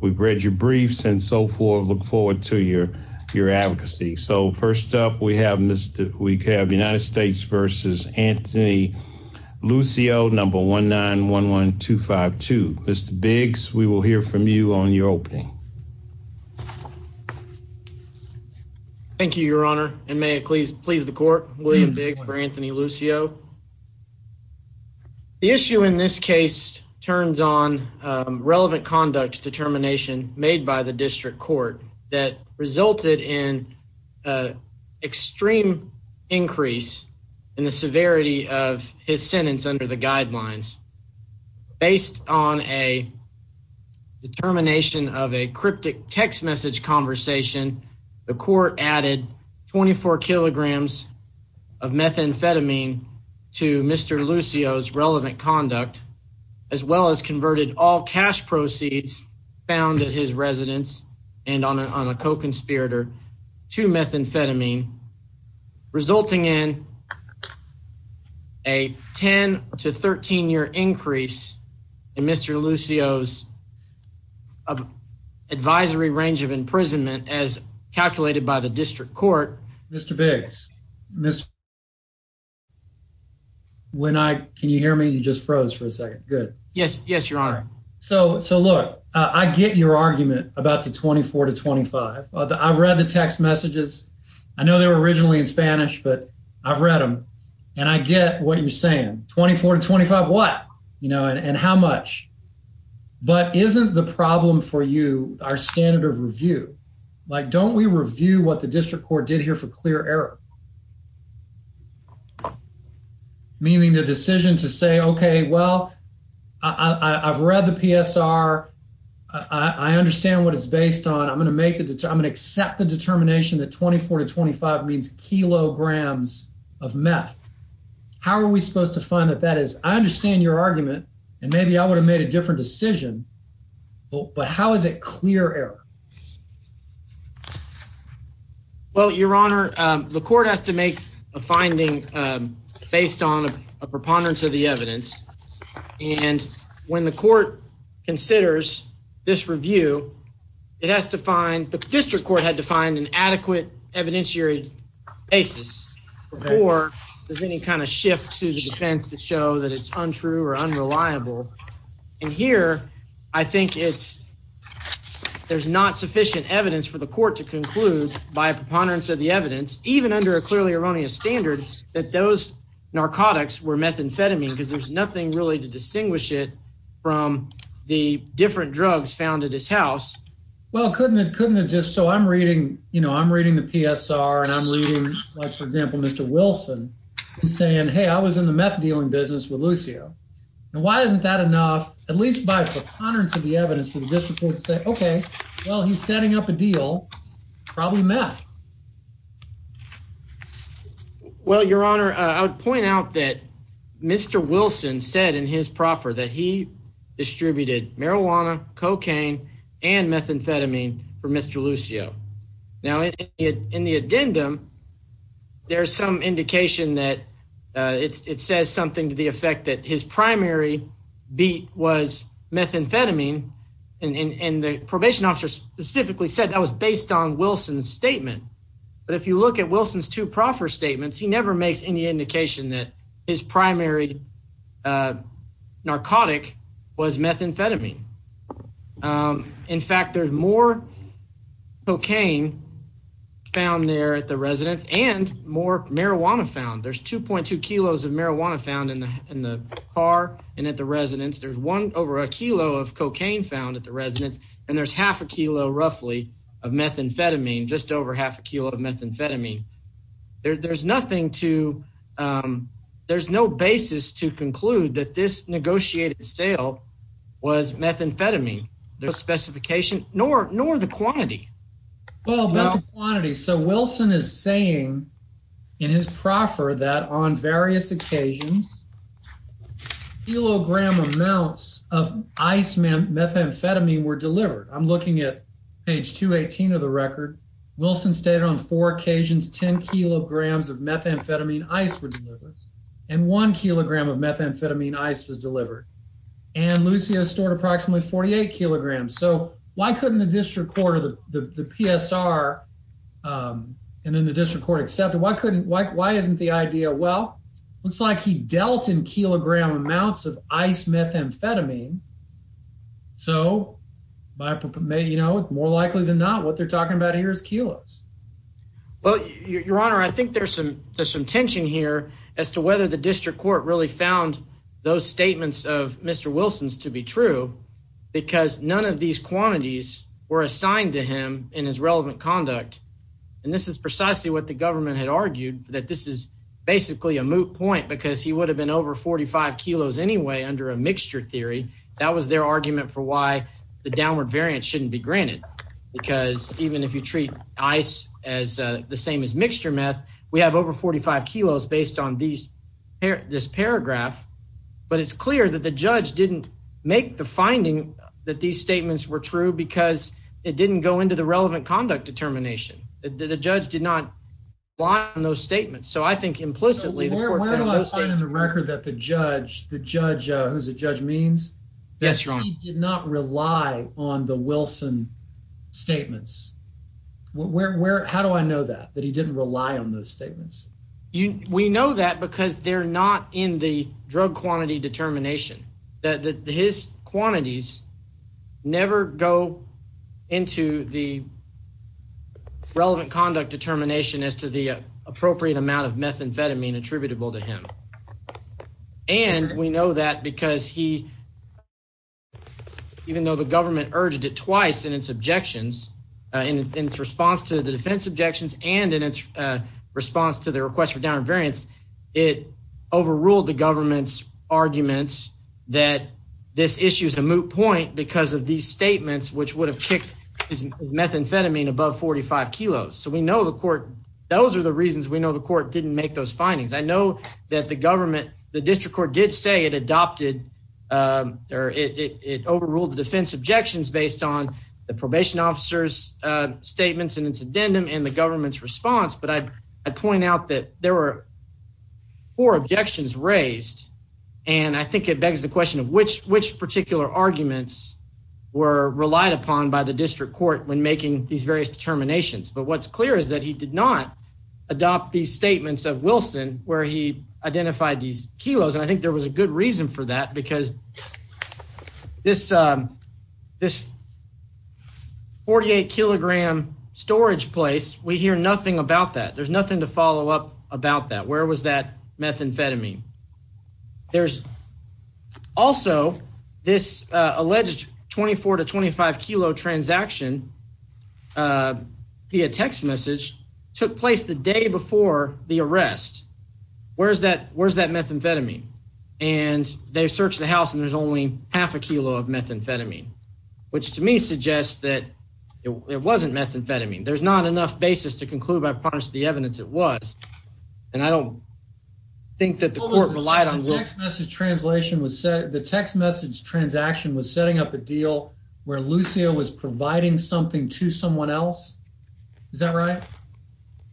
We've read your briefs and so forth. Look forward to your your advocacy. So first up we have Mr. We have United States versus Anthony Lucio number 1911252. Mr. Biggs, we will hear from you on your opening. Thank you, Your Honor, and may it please please the court, William Biggs for Anthony Lucio. The issue in this case turns on relevant conduct determination made by the district court that resulted in extreme increase in the severity of his sentence under the guidelines. Based on a determination of a cryptic text message conversation, the court added 24 kilograms of methamphetamine to Mr. Lucio's relevant conduct, as well as converted all cash proceeds found at his residence and on a co-conspirator to methamphetamine. Resulting in a 10 to 13 year increase in Mr. Lucio's advisory range of imprisonment as calculated by the district court. Mr. Biggs, Mr. When I can you hear me? You just froze for a second. Good. Yes. Yes, Your Honor. So so look, I get your argument about the 24 to 25. I read the text messages. I know they were originally in Spanish, but I've read them and I get what you're saying. 24 to 25. What? You know, and how much? But isn't the problem for you our standard of review? Like, don't we review what the district court did here for clear error? Meaning the decision to say, Okay, well, I've read the PSR. I understand what it's based on. I'm gonna make it. I'm gonna accept the determination that 24 to 25 means kilograms of meth. How are we supposed to find that? That is, I understand your argument, and maybe I would have made a different decision. But how is it clear error? Well, Your Honor, the court has to make a finding based on a preponderance of the evidence. And when the court considers this review, it has to find the district court had to find an adequate evidentiary basis before there's any kind of shift to the defense to show that it's untrue or unreliable. And here I think it's there's not sufficient evidence for the court to conclude by preponderance of the evidence, even under a clearly erroneous standard that those narcotics were methamphetamine because there's nothing really to distinguish it from the different drugs found at his house. Well, couldn't it? Couldn't it? Just so I'm reading, you know, I'm reading the PSR and I'm reading, like, for example, Mr Wilson saying, Hey, I was in the meth dealing business with Lucio. And why isn't that enough? At least by preponderance of the evidence for the district court to say, Okay, well, he's setting up a deal. Probably meth. Well, Your Honor, I would point out that Mr Wilson said in his proffer that he distributed marijuana, cocaine and methamphetamine for Mr Lucio. Now, in the addendum, there's some indication that it says something to the effect that his primary beat was methamphetamine. And the probation officer specifically said that was based on Wilson's statement. But if you look at Wilson's two proffer statements, he never makes any indication that his primary narcotic was methamphetamine. In fact, there's more cocaine found there at the residence and more marijuana found. There's 2.2 kilos of marijuana found in the car and at the residence. There's one over a kilo of cocaine found at the residence, and there's half a kilo, roughly, of methamphetamine, just over half a kilo of methamphetamine. There's no basis to conclude that this negotiated sale was methamphetamine. There's no specification, nor the quantity. Well, about the quantity. So Wilson is saying in his proffer that on various occasions, kilogram amounts of methamphetamine were delivered. I'm looking at page 218 of the record. Wilson stated on four occasions, 10 kilograms of methamphetamine ice were delivered and one kilogram of methamphetamine ice was delivered. And Lucio stored approximately 48 kilograms. So why couldn't the district court or the PSR and then the district court accept it? Why isn't the idea? Well, looks like he dealt in kilogram amounts of ice methamphetamine. So, you know, more likely than not, what they're talking about here is kilos. Well, Your Honor, I think there's some there's some tension here as to whether the district court really found those statements of Mr. Wilson's to be true, because none of these quantities were assigned to him in his relevant conduct. And this is precisely what the government had argued that this is basically a moot point because he would have been over 45 kilos anyway under a mixture theory. That was their argument for why the downward variant shouldn't be granted. Because even if you treat ice as the same as mixture meth, we have over 45 kilos based on these this paragraph. But it's clear that the judge didn't make the finding that these statements were true because it didn't go into the relevant conduct determination. The judge did not lie on those statements. So I think implicitly the record that the judge, the judge who's a judge means that he did not rely on the Wilson statements. How do I know that that he didn't rely on those statements? We know that because they're not in the drug quantity determination that his quantities never go into the relevant conduct determination as to the appropriate amount of methamphetamine attributable to him. And we know that because he even though the government urged it twice in its objections in its response to the defense objections and in its response to the request for down variants, it overruled the government's arguments that this issue is a moot point because of these statements, which would have kicked his methamphetamine above 45 kilos. So we know the court. Those are the reasons we know the court didn't make those findings. I know that the government, the district court did say it adopted or it overruled the defense objections based on the probation officers statements and its addendum and the government's response. But I point out that there were four objections raised and I think it begs the question of which which particular arguments were relied upon by the district court when making these various determinations. But what's clear is that he did not adopt these statements of Wilson where he identified these kilos. And I think there was a good reason for that because this this 48 kilogram storage place, we hear nothing about that. There's nothing to follow up about that. Where was that methamphetamine? There's also this alleged 24 to 25 kilo transaction via text message took place the day before the arrest. Where's that? Where's that methamphetamine? And they searched the house and there's only half a kilo of methamphetamine, which to me suggests that it wasn't methamphetamine. There's not enough basis to conclude by the evidence it was. And I don't think that the court relied on. The text message translation was set. The text message transaction was setting up a deal where Lucio was providing something to someone else. Is that right?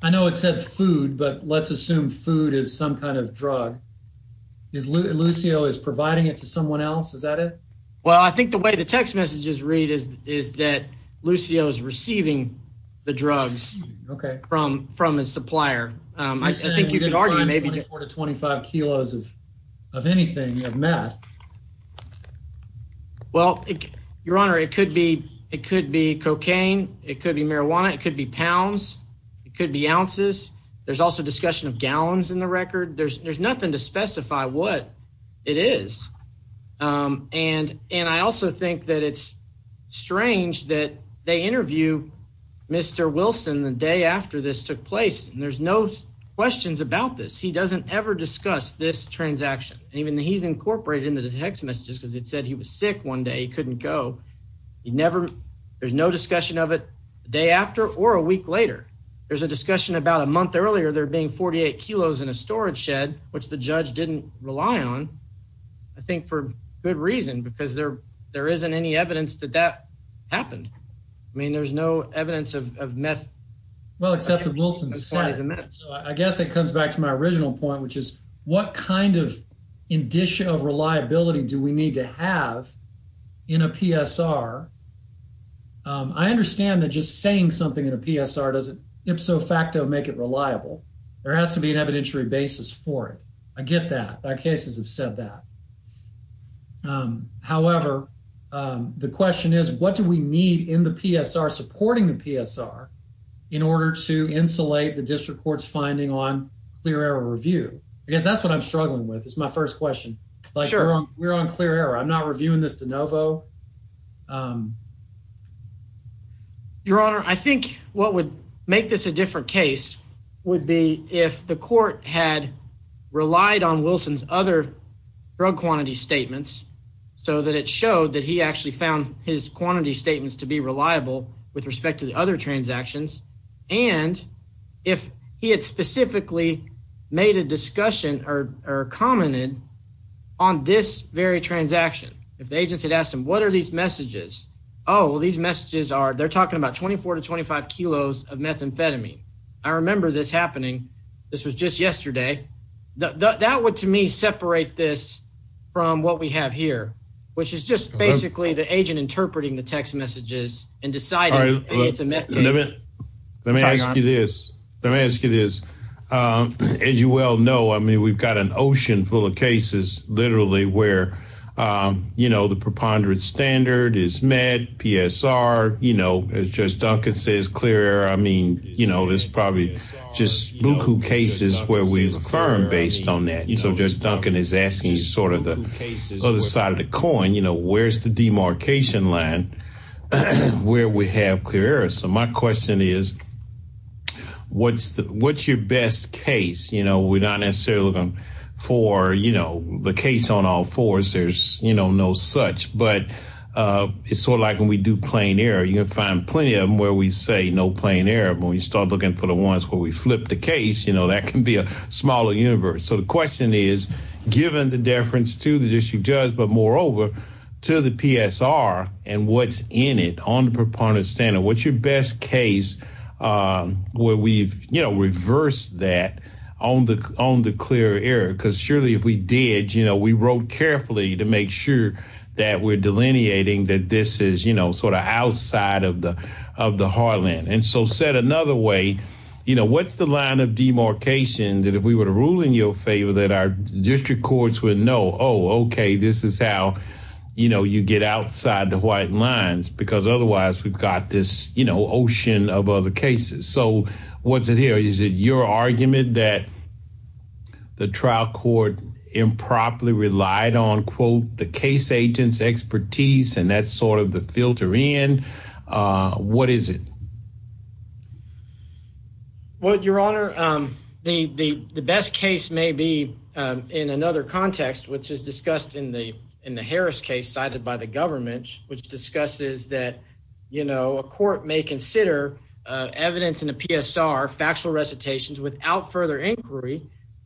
I know it said food, but let's assume food is some kind of drug. Lucio is providing it to someone else. Is that it? Well, I think the way the text messages read is is that Lucio is receiving the drugs from from his supplier. I think you could argue maybe 24 to 25 kilos of of anything you have math. Well, Your Honor, it could be. It could be cocaine. It could be marijuana. It could be pounds. It could be ounces. There's also discussion of gallons in the record. There's nothing to specify what it is. And and I also think that it's strange that they interview Mr. Wilson the day after this took place. And there's no questions about this. He doesn't ever discuss this transaction. Even he's incorporated in the text messages because it said he was sick one day. He couldn't go. He never there's no discussion of it the day after or a week later. There's a discussion about a month earlier there being 48 kilos in a storage shed, which the judge didn't rely on, I think, for good reason, because there there isn't any evidence that that happened. I mean, there's no evidence of meth. Well, except that Wilson said, I guess it comes back to my original point, which is what kind of indicia of reliability do we need to have in a PSR? I understand that just saying something in a PSR doesn't ipso facto make it reliable. There has to be an evidentiary basis for it. I get that our cases have said that. However, the question is, what do we need in the PSR supporting the PSR in order to insulate the district court's finding on clear error review? I guess that's what I'm struggling with. It's my first question. We're on clear error. I'm not reviewing this de novo. Your Honor, I think what would make this a different case would be if the court had relied on Wilson's other drug quantity statements so that it showed that he actually found his quantity statements to be reliable with respect to the other transactions. And if he had specifically made a discussion or commented on this very transaction, if the agents had asked him, what are these messages? Oh, well, these messages are they're talking about 24 to 25 kilos of methamphetamine. I remember this happening. This was just yesterday. That would, to me, separate this from what we have here, which is just basically the agent interpreting the text messages and deciding it's a method. Let me ask you this. Let me ask you this. As you well know, I mean, we've got an ocean full of cases literally where, you know, the preponderance standard is mad. PSR, you know, it's just Duncan says clear. I mean, you know, there's probably just Buku cases where we affirm based on that. You know, just Duncan is asking sort of the other side of the coin. You know, where's the demarcation line where we have clear? So my question is, what's what's your best case? You know, we're not necessarily looking for, you know, the case on all fours. There's, you know, no such. But it's sort of like when we do plain air, you find plenty of them where we say no plain air. But when you start looking for the ones where we flip the case, you know, that can be a smaller universe. So the question is, given the deference to the issue judge, but moreover to the PSR and what's in it on the preponderance standard, what's your best case where we've reversed that on the on the clear air? Because surely if we did, you know, we wrote carefully to make sure that we're delineating, that this is, you know, sort of outside of the of the heartland. And so said another way, you know, what's the line of demarcation that if we were to rule in your favor, that our district courts would know? Oh, OK. This is how, you know, you get outside the white lines, because otherwise we've got this, you know, ocean of other cases. So what's it here? Is it your argument that the trial court improperly relied on, quote, the case agent's expertise? And that's sort of the filter in. What is it? Well, your honor, the the best case may be in another context, which is discussed in the in the Harris case cited by the government, which discusses that, you know, a court may consider evidence in a PSR factual recitations without further inquiry,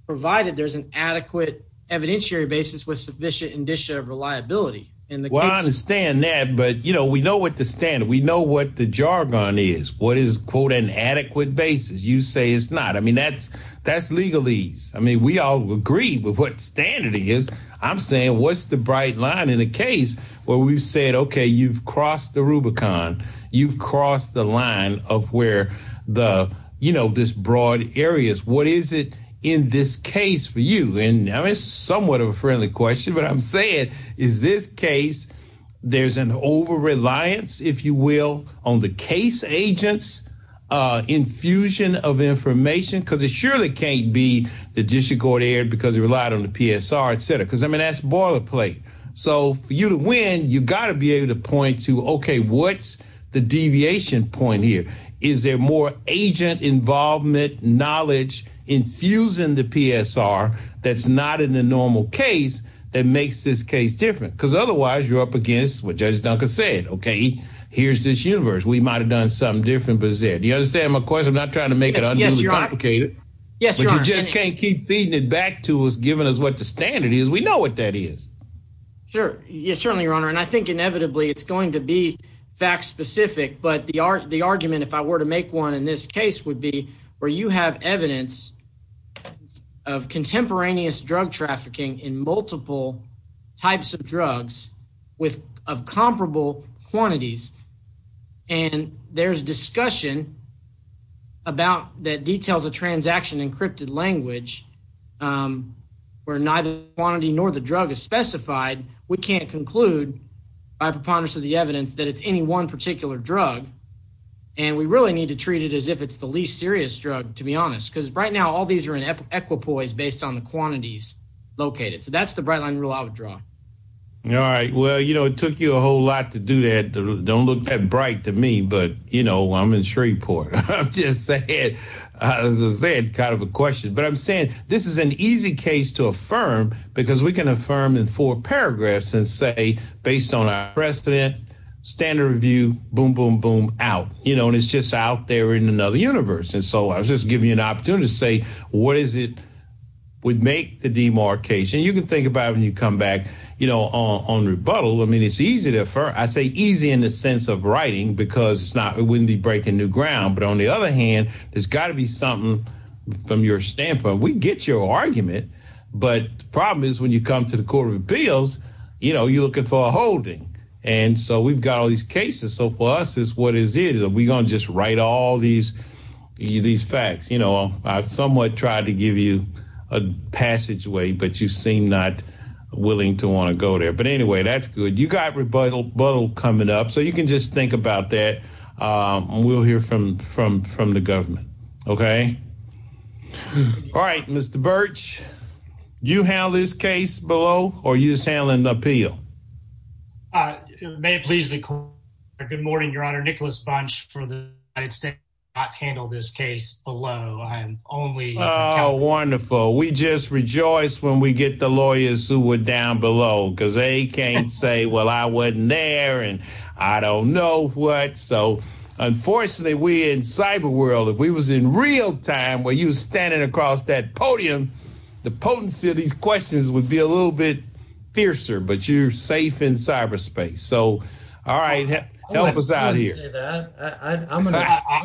provided there's an adequate evidentiary basis with sufficient indicia of reliability. Well, I understand that. But, you know, we know what the standard we know what the jargon is. What is, quote, an adequate basis? You say it's not. I mean, that's that's legalese. I mean, we all agree with what standard is. I'm saying what's the bright line in a case where we've said, OK, you've crossed the Rubicon. You've crossed the line of where the, you know, this broad areas. What is it in this case for you? And I mean, it's somewhat of a friendly question, but I'm saying is this case there's an overreliance, if you will, on the case agents infusion of information because it surely can't be the district court aired because it relied on the PSR, et cetera, because I mean, that's boilerplate. So for you to win, you've got to be able to point to, OK, what's the deviation point here? Is there more agent involvement, knowledge infusing the PSR that's not in the normal case that makes this case different? Because otherwise you're up against what Judge Duncan said. OK, here's this universe. We might have done something different. But is it you understand my question? I'm not trying to make it complicated. Yes, you just can't keep feeding it back to us, giving us what the standard is. We know what that is. Sure. Yes, certainly, Your Honor. And I think inevitably it's going to be fact specific. But the the argument, if I were to make one in this case, would be where you have evidence of contemporaneous drug trafficking in multiple types of drugs with of comparable quantities. And there's discussion. About that details, a transaction encrypted language where neither quantity nor the drug is specified, we can't conclude by preponderance of the evidence that it's any one particular drug and we really need to treat it as if it's the least serious drug, to be honest, because right now all these are in equipoise based on the quantities located. So that's the bright line rule I would draw. All right. Well, you know, it took you a whole lot to do that. Don't look that bright to me. But, you know, I'm in Shreveport. I'm just saying, as I said, kind of a question, but I'm saying this is an easy case to affirm because we can affirm in four paragraphs and say, based on our precedent, standard review, boom, boom, boom out. You know, and it's just out there in another universe. And so I was just giving you an opportunity to say, what is it would make the demarcation? You can think about when you come back, you know, on rebuttal. I mean, it's easy to affirm. I say easy in the sense of writing because it's not it wouldn't be breaking new ground. But on the other hand, there's got to be something from your standpoint. We get your argument, but the problem is when you come to the Court of Appeals, you know, you're looking for a holding. And so we've got all these cases. So for us is what is it? Are we going to just write all these these facts? You know, I've somewhat tried to give you a passageway, but you seem not willing to want to go there. But anyway, that's good. You got rebuttal coming up so you can just think about that. We'll hear from from from the government. OK. All right. Mr. Birch, you have this case below or you just handling the appeal? May it please the court. Good morning, Your Honor. Nicholas Bunch for the I'd say not handle this case below. Oh, wonderful. We just rejoice when we get the lawyers who were down below because they can't say, well, I wasn't there and I don't know what. So unfortunately, we in cyber world, if we was in real time where you standing across that podium, the potency of these questions would be a little bit fiercer, but you're safe in cyberspace. So. All right. Help us out here. I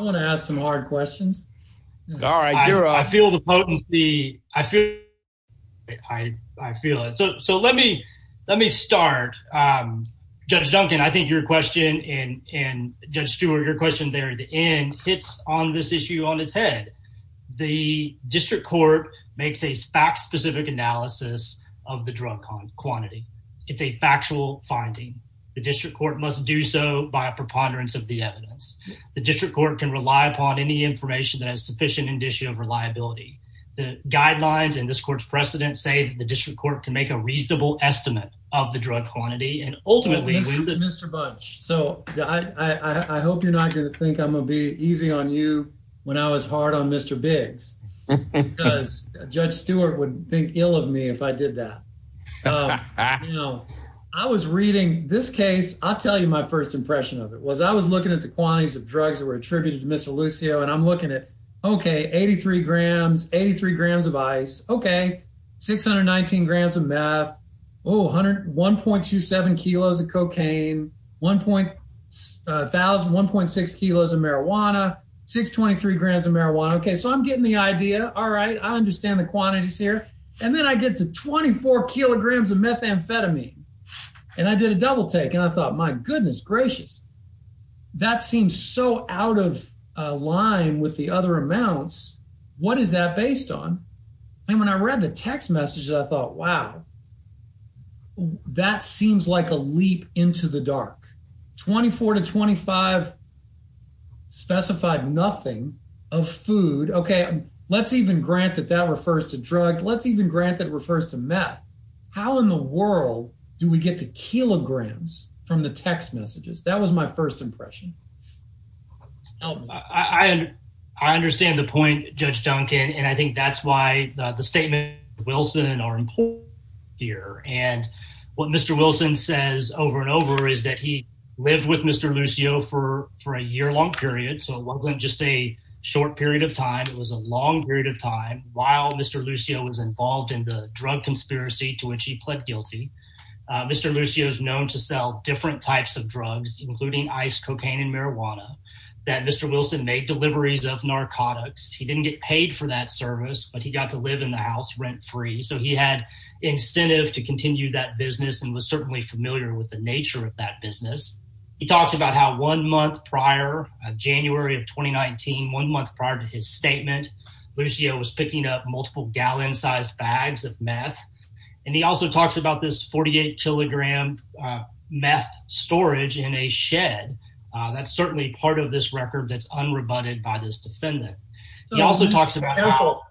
want to ask some hard questions. All right. I feel the potency. I feel it. So let me let me start. Judge Duncan, I think your question and Judge Stewart, your question there at the end hits on this issue on his head. The district court makes a fact specific analysis of the drug quantity. It's a factual finding. The district court must do so by a preponderance of the evidence. The district court can rely upon any information that has sufficient indicia of reliability. The guidelines in this court's precedent say the district court can make a reasonable estimate of the drug quantity. Mr. Bunch, so I hope you're not going to think I'm going to be easy on you when I was hard on Mr. Biggs because Judge Stewart would think ill of me if I did that. You know, I was reading this case. I'll tell you my first impression of it was I was looking at the quantities of drugs that were attributed to Mr. Lucio. And I'm looking at. OK. Eighty three grams. Eighty three grams of ice. OK. Six hundred nineteen grams of meth. One hundred one point two seven kilos of cocaine. One point thousand one point six kilos of marijuana. Six twenty three grams of marijuana. OK. So I'm getting the idea. All right. I understand the quantities here. And then I get to 24 kilograms of methamphetamine and I did a double take and I thought my goodness gracious. That seems so out of line with the other amounts. What is that based on? And when I read the text message, I thought, wow, that seems like a leap into the dark. Twenty four to twenty five. Specified nothing of food. OK. Let's even grant that that refers to drugs. Let's even grant that refers to meth. How in the world do we get to kilograms from the text messages? That was my first impression. I understand the point, Judge Duncan. And I think that's why the statement Wilson and are here. And what Mr. Wilson says over and over is that he lived with Mr. Lucio for for a year long period. So it wasn't just a short period of time. It was a long period of time. While Mr. Lucio was involved in the drug conspiracy to which he pled guilty. Mr. Lucio is known to sell different types of drugs, including ice, cocaine and marijuana that Mr. Wilson made deliveries of narcotics. He didn't get paid for that service, but he got to live in the house rent free. So he had incentive to continue that business and was certainly familiar with the nature of that business. He talks about how one month prior, January of twenty nineteen, one month prior to his statement, Lucio was picking up multiple gallon sized bags of meth. And he also talks about this forty eight kilogram meth storage in a shed. That's certainly part of this record that's unrebutted by this defendant. He also talks about.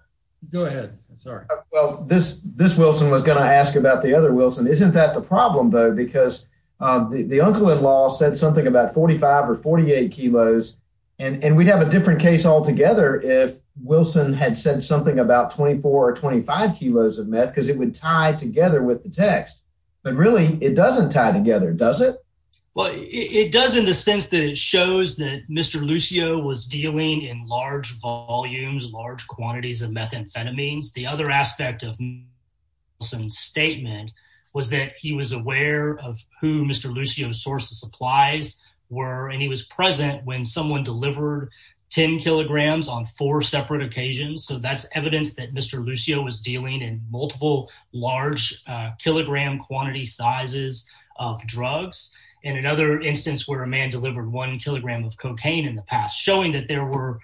Go ahead. Sorry. Well, this this Wilson was going to ask about the other Wilson. Isn't that the problem, though? Because the uncle in law said something about forty five or forty eight kilos. And we'd have a different case altogether if Wilson had said something about twenty four or twenty five kilos of meth because it would tie together with the text. But really, it doesn't tie together, does it? Well, it does in the sense that it shows that Mr. Lucio was dealing in large volumes, large quantities of methamphetamines. The other aspect of some statement was that he was aware of who Mr. Lucio's source of supplies were. And he was present when someone delivered 10 kilograms on four separate occasions. So that's evidence that Mr. Lucio was dealing in multiple large kilogram quantity sizes of drugs. And another instance where a man delivered one kilogram of cocaine in the past, showing that there were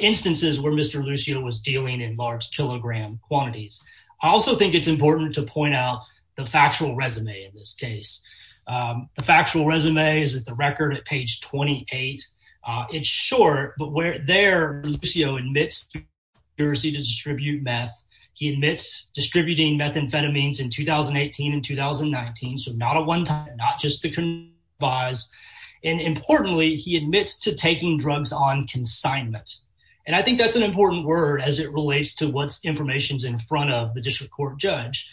instances where Mr. Lucio was dealing in large kilogram quantities. I also think it's important to point out the factual resume in this case. The factual resume is at the record at page twenty eight. It's short, but we're there. Lucio admits to distribute meth. He admits distributing methamphetamines in 2018 and 2019. So not a one time, not just the buzz. And importantly, he admits to taking drugs on consignment. And I think that's an important word as it relates to what's information's in front of the district court judge.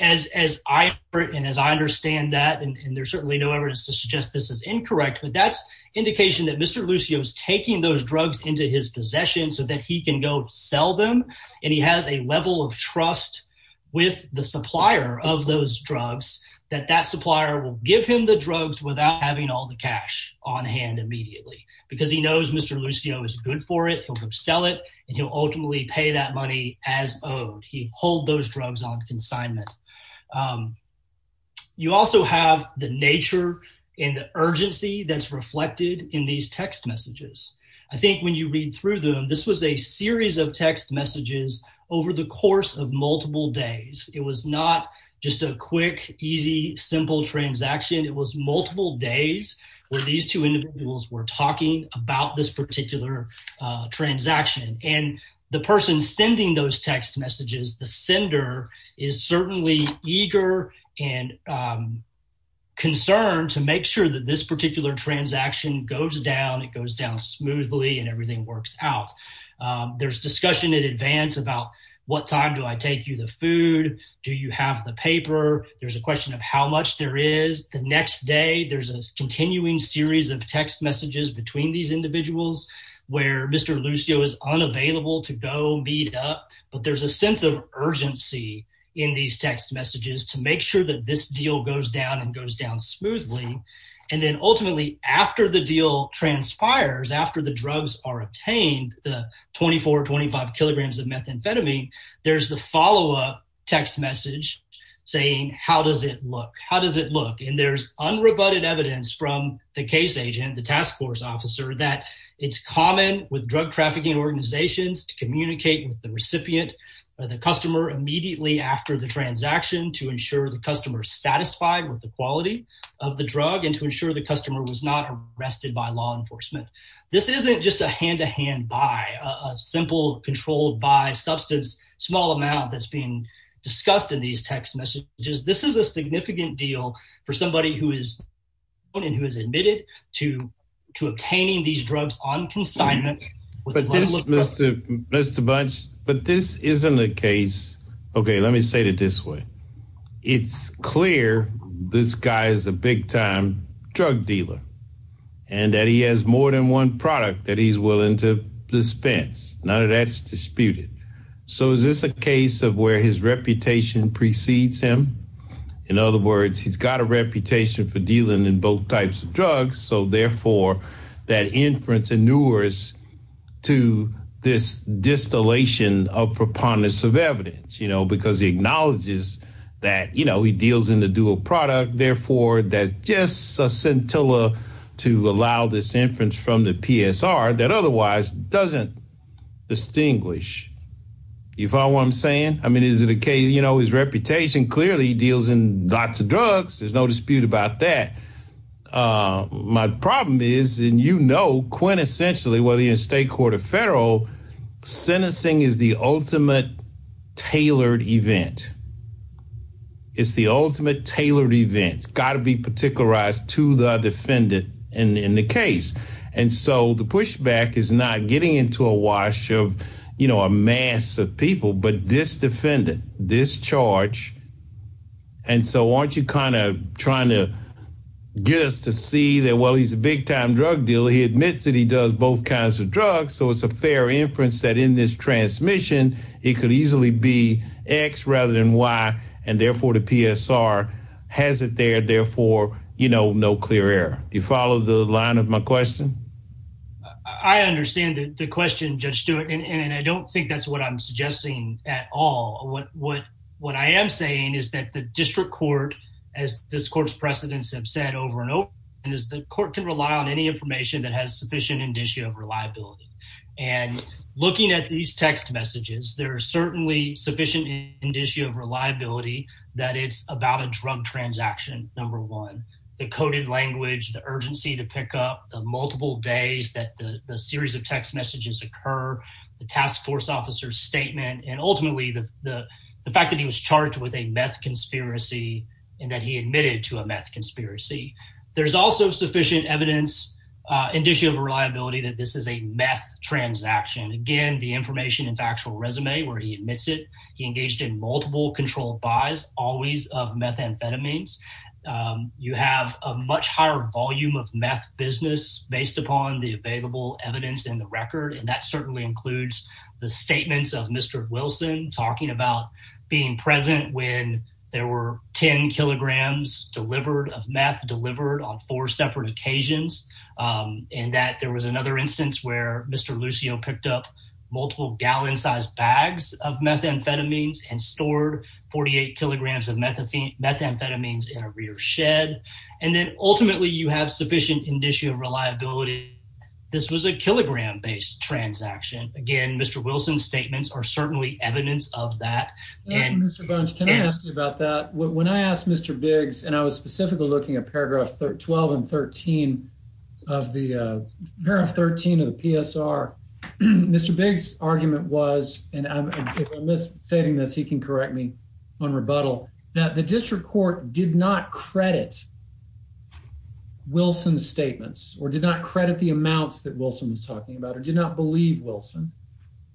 As as I heard and as I understand that, and there's certainly no evidence to suggest this is incorrect, but that's indication that Mr. Lucio is taking those drugs into his possession so that he can go sell them. And he has a level of trust with the supplier of those drugs that that supplier will give him the drugs without having all the cash on hand immediately. Because he knows Mr. Lucio is good for it. He'll sell it and he'll ultimately pay that money as owed. He hold those drugs on consignment. You also have the nature and the urgency that's reflected in these text messages. I think when you read through them, this was a series of text messages over the course of multiple days. It was not just a quick, easy, simple transaction. It was multiple days where these two individuals were talking about this particular transaction. And the person sending those text messages, the sender, is certainly eager and concerned to make sure that this particular transaction goes down. It goes down smoothly and everything works out. There's discussion in advance about what time do I take you the food? Do you have the paper? There's a question of how much there is. There's a continuing series of text messages between these individuals where Mr. Lucio is unavailable to go meet up. But there's a sense of urgency in these text messages to make sure that this deal goes down and goes down smoothly. And then ultimately, after the deal transpires, after the drugs are obtained, the 24, 25 kilograms of methamphetamine, there's the follow-up text message saying, how does it look? How does it look? And there's unrebutted evidence from the case agent, the task force officer, that it's common with drug trafficking organizations to communicate with the recipient or the customer immediately after the transaction to ensure the customer is satisfied with the quality of the drug and to ensure the customer was not arrested by law enforcement. This isn't just a hand-to-hand buy, a simple controlled-buy substance, small amount that's being discussed in these text messages. This is a significant deal for somebody who is known and who has admitted to obtaining these drugs on consignment. But this, Mr. Bunch, but this isn't a case – okay, let me say it this way. It's clear this guy is a big-time drug dealer and that he has more than one product that he's willing to dispense. None of that is disputed. So is this a case of where his reputation precedes him? In other words, he's got a reputation for dealing in both types of drugs, so therefore that inference inures to this distillation of preponderance of evidence, you know, because he acknowledges that, you know, he deals in the dual product. Therefore, that's just a scintilla to allow this inference from the PSR that otherwise doesn't distinguish. You follow what I'm saying? I mean, is it a case – you know, his reputation clearly deals in lots of drugs. There's no dispute about that. My problem is, and you know quintessentially whether you're in state court or federal, sentencing is the ultimate tailored event. It's the ultimate tailored event. It's got to be particularized to the defendant in the case. And so the pushback is not getting into a wash of, you know, a mass of people, but this defendant, this charge, and so aren't you kind of trying to get us to see that, well, he's a big-time drug dealer. He admits that he does both kinds of drugs, so it's a fair inference that in this transmission, it could easily be X rather than Y, and therefore the PSR has it there, therefore, you know, no clear error. Do you follow the line of my question? I understand the question, Judge Stewart, and I don't think that's what I'm suggesting at all. What I am saying is that the district court, as this court's precedents have said over and over, is the court can rely on any information that has sufficient indicia of reliability. And looking at these text messages, there are certainly sufficient indicia of reliability that it's about a drug transaction, number one, the coded language, the urgency to pick up, the multiple days that the series of text messages occur, the task force officer's statement, and ultimately the fact that he was charged with a meth conspiracy and that he admitted to a meth conspiracy. There's also sufficient evidence, indicia of reliability, that this is a meth transaction. Again, the information and factual resume where he admits it, he engaged in multiple controlled buys, always of methamphetamines. You have a much higher volume of meth business based upon the available evidence in the record. And that certainly includes the statements of Mr. Wilson talking about being present when there were 10 kilograms delivered of meth delivered on four separate occasions. And that there was another instance where Mr. Lucio picked up multiple gallon sized bags of methamphetamines and stored 48 kilograms of methamphetamines in a rear shed. And then ultimately you have sufficient indicia of reliability. This was a kilogram based transaction. Again, Mr. Wilson's statements are certainly evidence of that. Mr. Bunch, can I ask you about that? When I asked Mr. Biggs, and I was specifically looking at paragraph 12 and 13 of the PSR, Mr. Biggs' argument was, and if I'm misstating this, he can correct me on rebuttal, that the district court did not credit Wilson's statements or did not credit the amounts that Wilson was talking about or did not believe Wilson.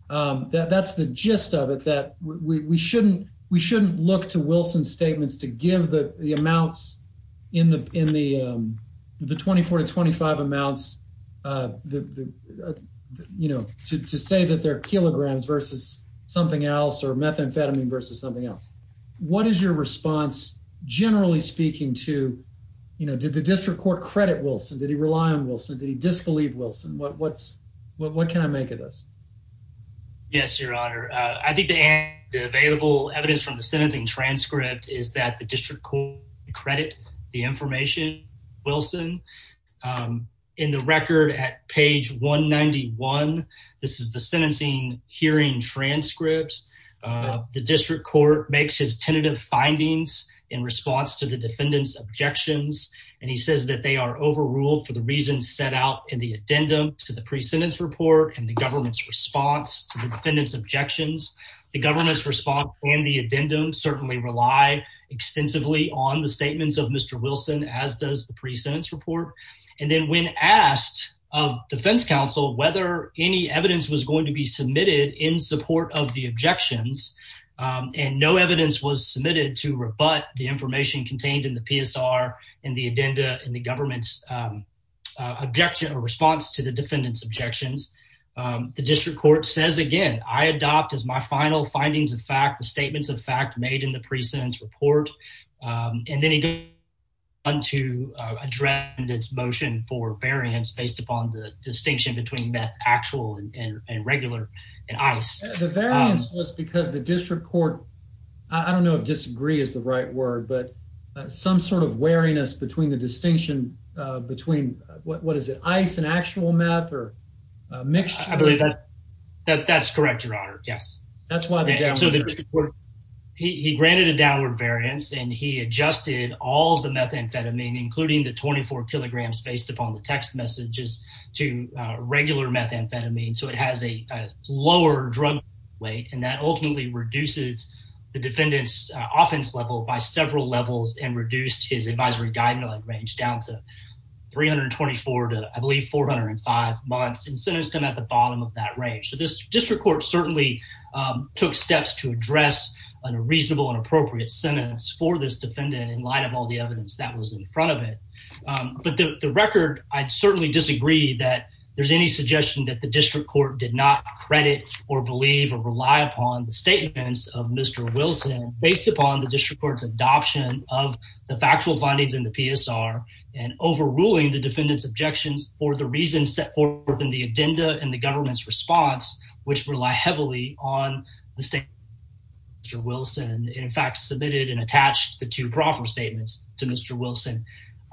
That's the gist of it, that we shouldn't look to Wilson's statements to give the amounts in the 24 to 25 amounts to say that they're kilograms versus something else or methamphetamine versus something else. What is your response, generally speaking, to did the district court credit Wilson? Did he rely on Wilson? Did he disbelieve Wilson? What can I make of this? Yes, Your Honor. I think the available evidence from the sentencing transcript is that the district court credit the information of Wilson. In the record at page 191, this is the sentencing hearing transcript. The district court makes his tentative findings in response to the defendant's objections, and he says that they are overruled for the reasons set out in the addendum to the pre-sentence report and the government's response to the defendant's objections. The government's response and the addendum certainly rely extensively on the statements of Mr. Wilson, as does the pre-sentence report. And then when asked of defense counsel whether any evidence was going to be submitted in support of the objections, and no evidence was submitted to rebut the information contained in the PSR and the addenda in the government's objection or response to the defendant's objections, the district court says, again, I adopt as my final findings of fact the statements of fact made in the pre-sentence report. And then he goes on to address its motion for variance based upon the distinction between meth actual and regular and ice. The variance was because the district court, I don't know if disagree is the right word, but some sort of wariness between the distinction between, what is it, ice and actual meth or a mixture? I believe that's correct, Your Honor. Yes. He granted a downward variance and he adjusted all the methamphetamine, including the 24 kilograms based upon the text messages to regular methamphetamine. So it has a lower drug weight and that ultimately reduces the defendant's offense level by several levels and reduced his advisory guideline range down to 324 to I believe 405 months and sentenced him at the bottom of that range. So this district court certainly took steps to address a reasonable and appropriate sentence for this defendant in light of all the evidence that was in front of it. But the record, I certainly disagree that there's any suggestion that the district court did not credit or believe or rely upon the statements of Mr. Wilson based upon the district court's adoption of the factual findings in the PSR and overruling the defendant's objections for the reasons set forth in the agenda and the government's response, which rely heavily on the state. Mr. Wilson, in fact, submitted and attached the two proffer statements to Mr. Wilson.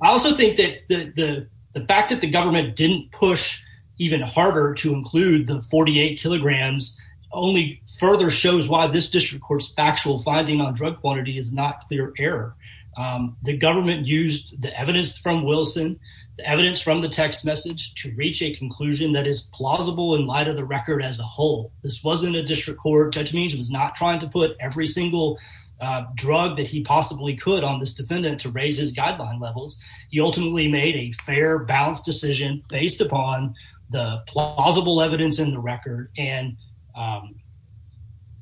I also think that the fact that the government didn't push even harder to include the 48 kilograms only further shows why this district court's factual finding on drug quantity is not clear error. The government used the evidence from Wilson, the evidence from the text message to reach a conclusion that is plausible in light of the record as a whole. This wasn't a district court judgment. It was not trying to put every single drug that he possibly could on this defendant to raise his guideline levels. He ultimately made a fair, balanced decision based upon the plausible evidence in the record. And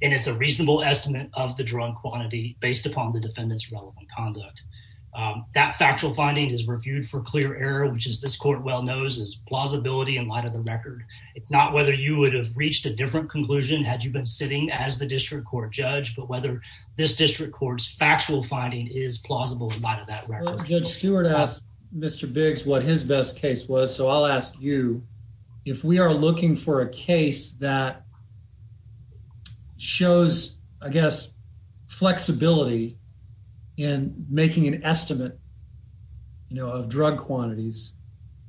it's a reasonable estimate of the drug quantity based upon the defendant's relevant conduct. That factual finding is reviewed for clear error, which is this court well knows is plausibility in light of the record. It's not whether you would have reached a different conclusion had you been sitting as the district court judge, but whether this district court's factual finding is plausible in light of that record. Judge Stewart asked Mr Biggs what his best case was. So I'll ask you if we are looking for a case that shows, I guess, flexibility in making an estimate, you know, of drug quantities.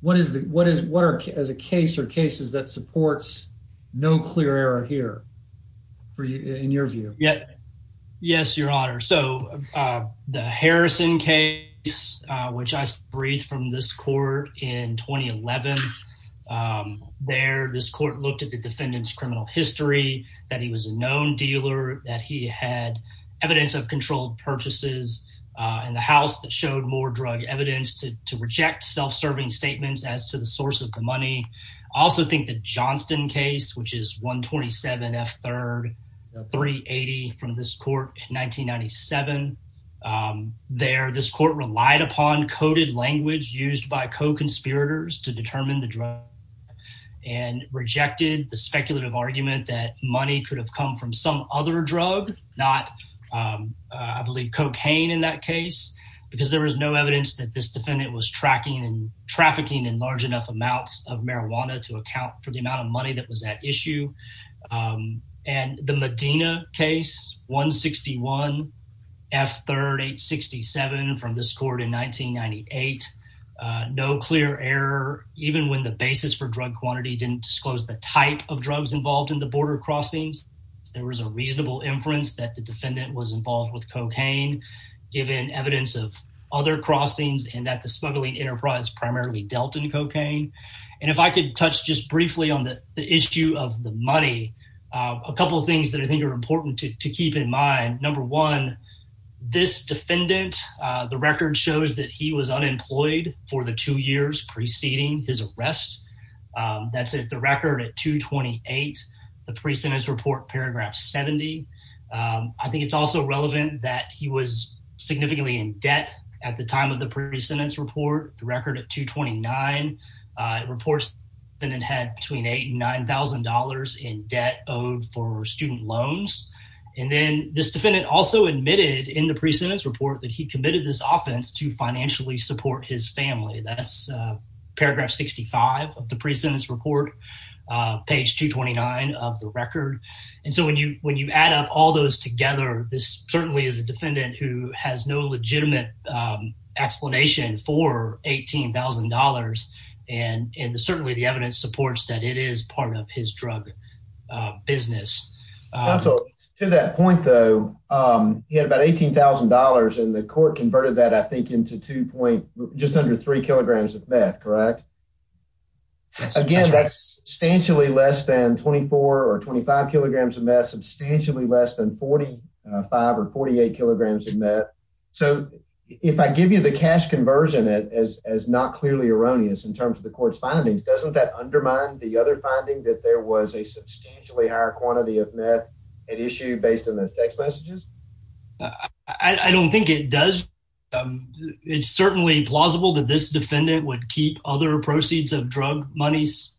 What is the what is work as a case or cases that supports no clear error here for you in your view? Yes, Your Honor. So the Harrison case, which I read from this court in 2011. There, this court looked at the defendant's criminal history, that he was a known dealer, that he had evidence of controlled purchases in the house that showed more drug evidence to reject self-serving statements as to the source of the money. I also think the Johnston case, which is 127 F. Third, 380 from this court in 1997. There, this court relied upon coded language used by co-conspirators to determine the drug and rejected the speculative argument that money could have come from some other drug, not, I believe, cocaine in that case. Because there was no evidence that this defendant was tracking and trafficking in large enough amounts of marijuana to account for the amount of money that was at issue. And the Medina case, 161 F. Third, 867 from this court in 1998. No clear error, even when the basis for drug quantity didn't disclose the type of drugs involved in the border crossings. There was a reasonable inference that the defendant was involved with cocaine, given evidence of other crossings and that the smuggling enterprise primarily dealt in cocaine. And if I could touch just briefly on the issue of the money, a couple of things that I think are important to keep in mind. Number one, this defendant, the record shows that he was unemployed for the two years preceding his arrest. That's it. The record at 228, the precedence report, paragraph 70. I think it's also relevant that he was significantly in debt at the time of the precedence report. The record at 229 reports and had between eight and nine thousand dollars in debt owed for student loans. And then this defendant also admitted in the precedence report that he committed this offense to financially support his family. That's paragraph 65 of the precedence report, page 229 of the record. And so when you when you add up all those together, this certainly is a defendant who has no legitimate explanation for eighteen thousand dollars. And certainly the evidence supports that it is part of his drug business. To that point, though, he had about eighteen thousand dollars in the court, converted that, I think, into two point just under three kilograms of meth. Correct. Again, that's substantially less than 24 or 25 kilograms of meth, substantially less than 45 or 48 kilograms of meth. So if I give you the cash conversion as as not clearly erroneous in terms of the court's findings, doesn't that undermine the other finding that there was a substantially higher quantity of meth at issue based on those text messages? I don't think it does. It's certainly plausible that this defendant would keep other proceeds of drug monies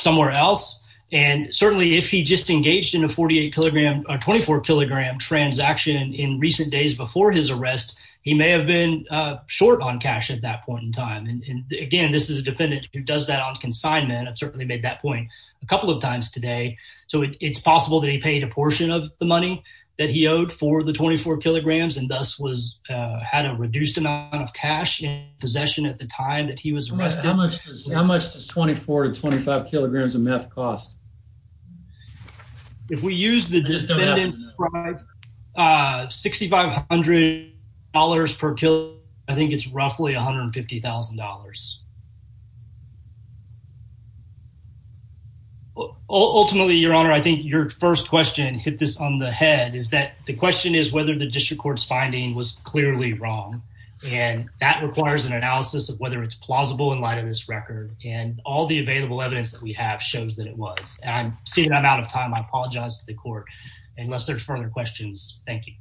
somewhere else. And certainly if he just engaged in a 48 kilogram or 24 kilogram transaction in recent days before his arrest, he may have been short on cash at that point in time. And again, this is a defendant who does that on consignment. I've certainly made that point a couple of times today. So it's possible that he paid a portion of the money that he owed for the 24 kilograms and thus was had a reduced amount of cash in possession at the time that he was arrested. How much does 24 to 25 kilograms of meth cost? If we use the $6,500 per kilo, I think it's roughly $150,000. Ultimately, Your Honor, I think your first question hit this on the head is that the question is whether the district court's finding was clearly wrong. And that requires an analysis of whether it's plausible in light of this record. And all the available evidence that we have shows that it was. And seeing that I'm out of time, I apologize to the court. Unless there's further questions. Thank you.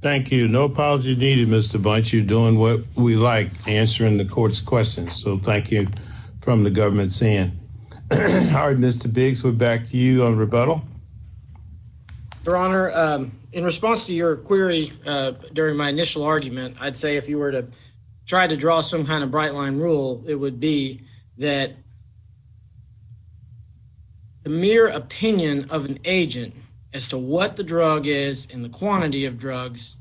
Thank you. No apology needed, Mr. Bunch. You're doing what we like, answering the court's questions. So thank you from the government's end. Howard, Mr. Biggs, we're back to you on rebuttal. Your Honor, in response to your query during my initial argument, I'd say if you were to try to draw some kind of bright line rule, it would be that. The mere opinion of an agent as to what the drug is and the quantity of drugs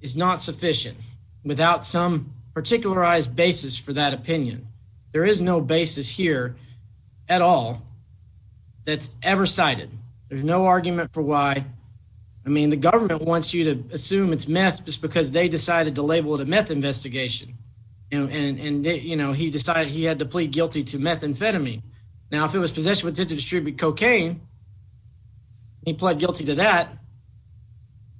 is not sufficient without some particularized basis for that opinion. There is no basis here at all that's ever cited. There's no argument for why. I mean, the government wants you to assume it's meth just because they decided to label it a meth investigation. And, you know, he decided he had to plead guilty to methamphetamine. Now, if it was possession with intent to distribute cocaine, he pled guilty to that.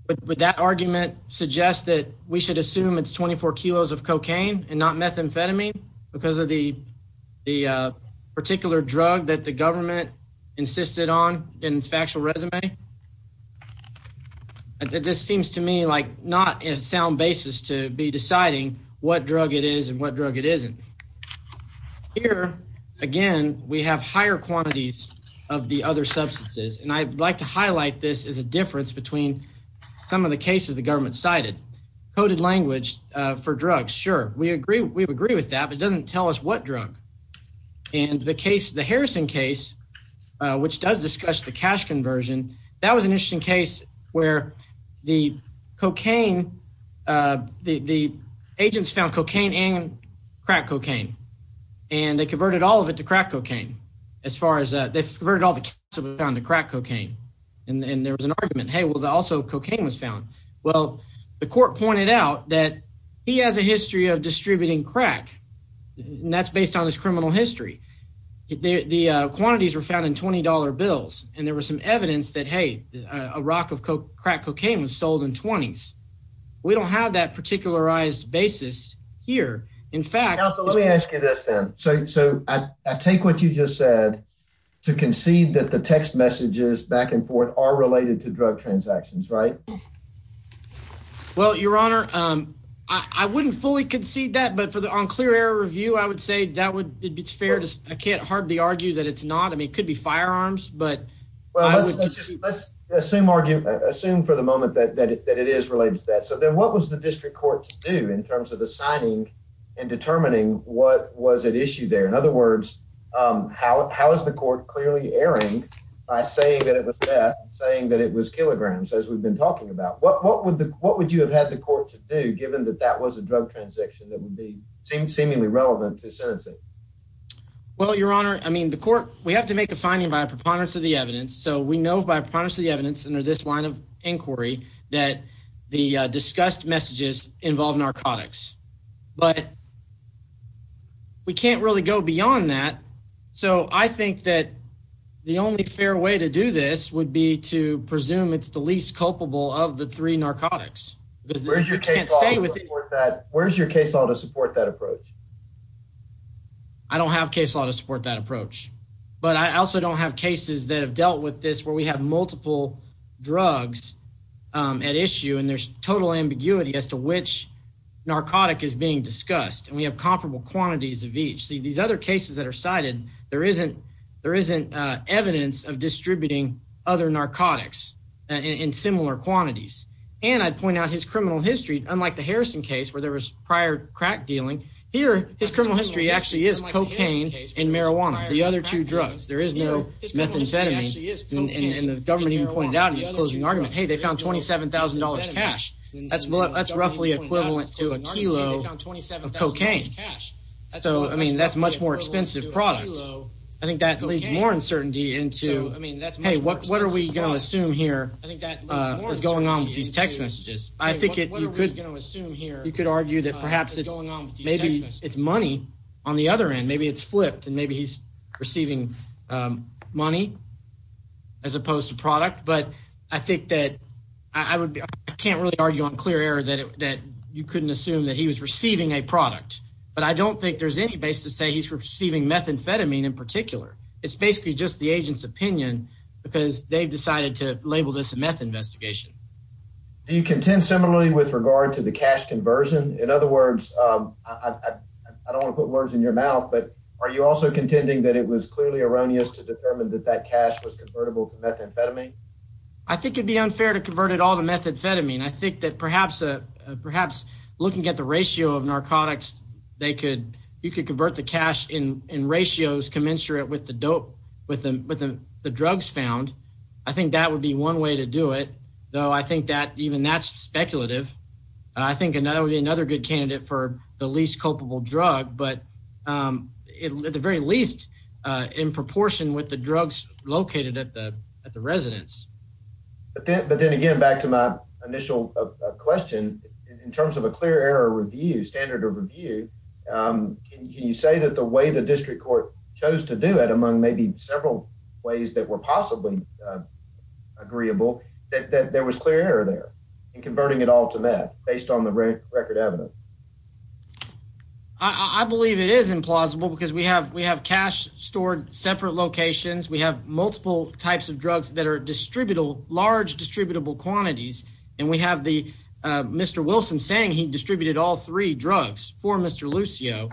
But that argument suggests that we should assume it's 24 kilos of cocaine and not methamphetamine because of the particular drug that the government insisted on in its factual resume. This seems to me like not a sound basis to be deciding what drug it is and what drug it isn't. Here, again, we have higher quantities of the other substances. And I'd like to highlight this as a difference between some of the cases the government cited. Coded language for drugs. Sure, we agree. We agree with that. It doesn't tell us what drug. And the case, the Harrison case, which does discuss the cash conversion. That was an interesting case where the cocaine, the agents found cocaine and crack cocaine, and they converted all of it to crack cocaine. As far as that, they've heard all the down to crack cocaine. And there was an argument, hey, well, the also cocaine was found. Well, the court pointed out that he has a history of distributing crack. And that's based on his criminal history. The quantities were found in 20 dollar bills. And there was some evidence that, hey, a rock of crack cocaine was sold in 20s. We don't have that particularized basis here. In fact, let me ask you this then. So I take what you just said to concede that the text messages back and forth are related to drug transactions, right? Well, your honor, I wouldn't fully concede that. But for the unclear air review, I would say that would be fair. I can't hardly argue that it's not. I mean, it could be firearms, but let's assume argue. Assume for the moment that it is related to that. So then what was the district court to do in terms of the signing and determining what was at issue there? In other words, how is the court clearly erring by saying that it was death, saying that it was kilograms, as we've been talking about? What would the what would you have had the court to do, given that that was a drug transaction that would be seemingly relevant to sentencing? Well, your honor, I mean, the court, we have to make a finding by a preponderance of the evidence. So we know by part of the evidence under this line of inquiry that the discussed messages involve narcotics. But. We can't really go beyond that. So I think that the only fair way to do this would be to presume it's the least culpable of the three narcotics. Where's your case with that? Where's your case law to support that approach? I don't have case law to support that approach, but I also don't have cases that have dealt with this where we have multiple drugs at issue. And there's total ambiguity as to which narcotic is being discussed. And we have comparable quantities of each. See these other cases that are cited. There isn't there isn't evidence of distributing other narcotics in similar quantities. And I'd point out his criminal history, unlike the Harrison case where there was prior crack dealing here, his criminal history actually is cocaine and marijuana. The other two drugs, there is no methamphetamine. And the government even pointed out in his closing argument, hey, they found twenty seven thousand dollars cash. That's what that's roughly equivalent to a kilo of cocaine. So, I mean, that's much more expensive product. I think that leads more uncertainty into I mean, that's hey, what what are we going to assume here? I think that is going on with these text messages. You could argue that perhaps it's maybe it's money on the other end. Maybe it's flipped and maybe he's receiving money as opposed to product. But I think that I would be I can't really argue on clear air that that you couldn't assume that he was receiving a product. But I don't think there's any basis to say he's receiving methamphetamine in particular. It's basically just the agent's opinion because they've decided to label this a meth investigation. Do you contend similarly with regard to the cash conversion? In other words, I don't put words in your mouth. But are you also contending that it was clearly erroneous to determine that that cash was convertible to methamphetamine? I think it'd be unfair to convert it all to methamphetamine. I think that perhaps perhaps looking at the ratio of narcotics, they could you could convert the cash in ratios commensurate with the dope with the drugs found. I think that would be one way to do it, though. I think that even that's speculative. I think another another good candidate for the least culpable drug. But at the very least, in proportion with the drugs located at the at the residence. But then again, back to my initial question in terms of a clear air review standard of review. Can you say that the way the district court chose to do it among maybe several ways that were possibly agreeable, that there was clear there and converting it all to that based on the record evidence? I believe it is implausible because we have we have cash stored separate locations. We have multiple types of drugs that are distributable, large distributable quantities. And we have the Mr. Wilson saying he distributed all three drugs for Mr. Lucio.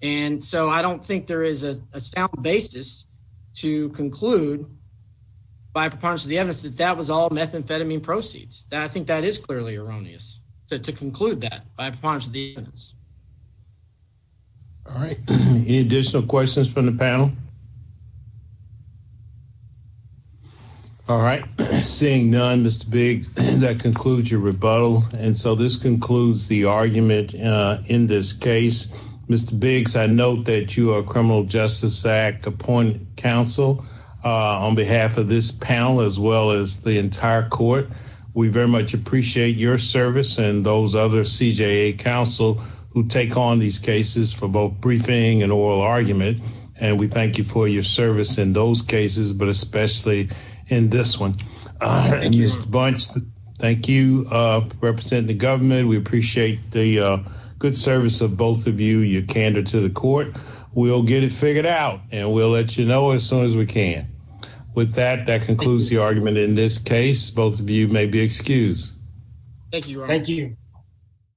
And so I don't think there is a sound basis to conclude. By part of the evidence that that was all methamphetamine proceeds that I think that is clearly erroneous to conclude that by part of the evidence. All right. Any additional questions from the panel? All right. Seeing none, Mr. Big, that concludes your rebuttal. And so this concludes the argument in this case. Mr. Biggs, I note that you are a criminal justice act appoint counsel on behalf of this panel as well as the entire court. We very much appreciate your service and those other CJ counsel who take on these cases for both briefing and oral argument. And we thank you for your service in those cases, but especially in this one. And you bunch. Thank you. Representing the government. We appreciate the good service of both of you. Your candor to the court. We'll get it figured out and we'll let you know as soon as we can. With that, that concludes the argument in this case. Both of you may be excused. Thank you. Thank you.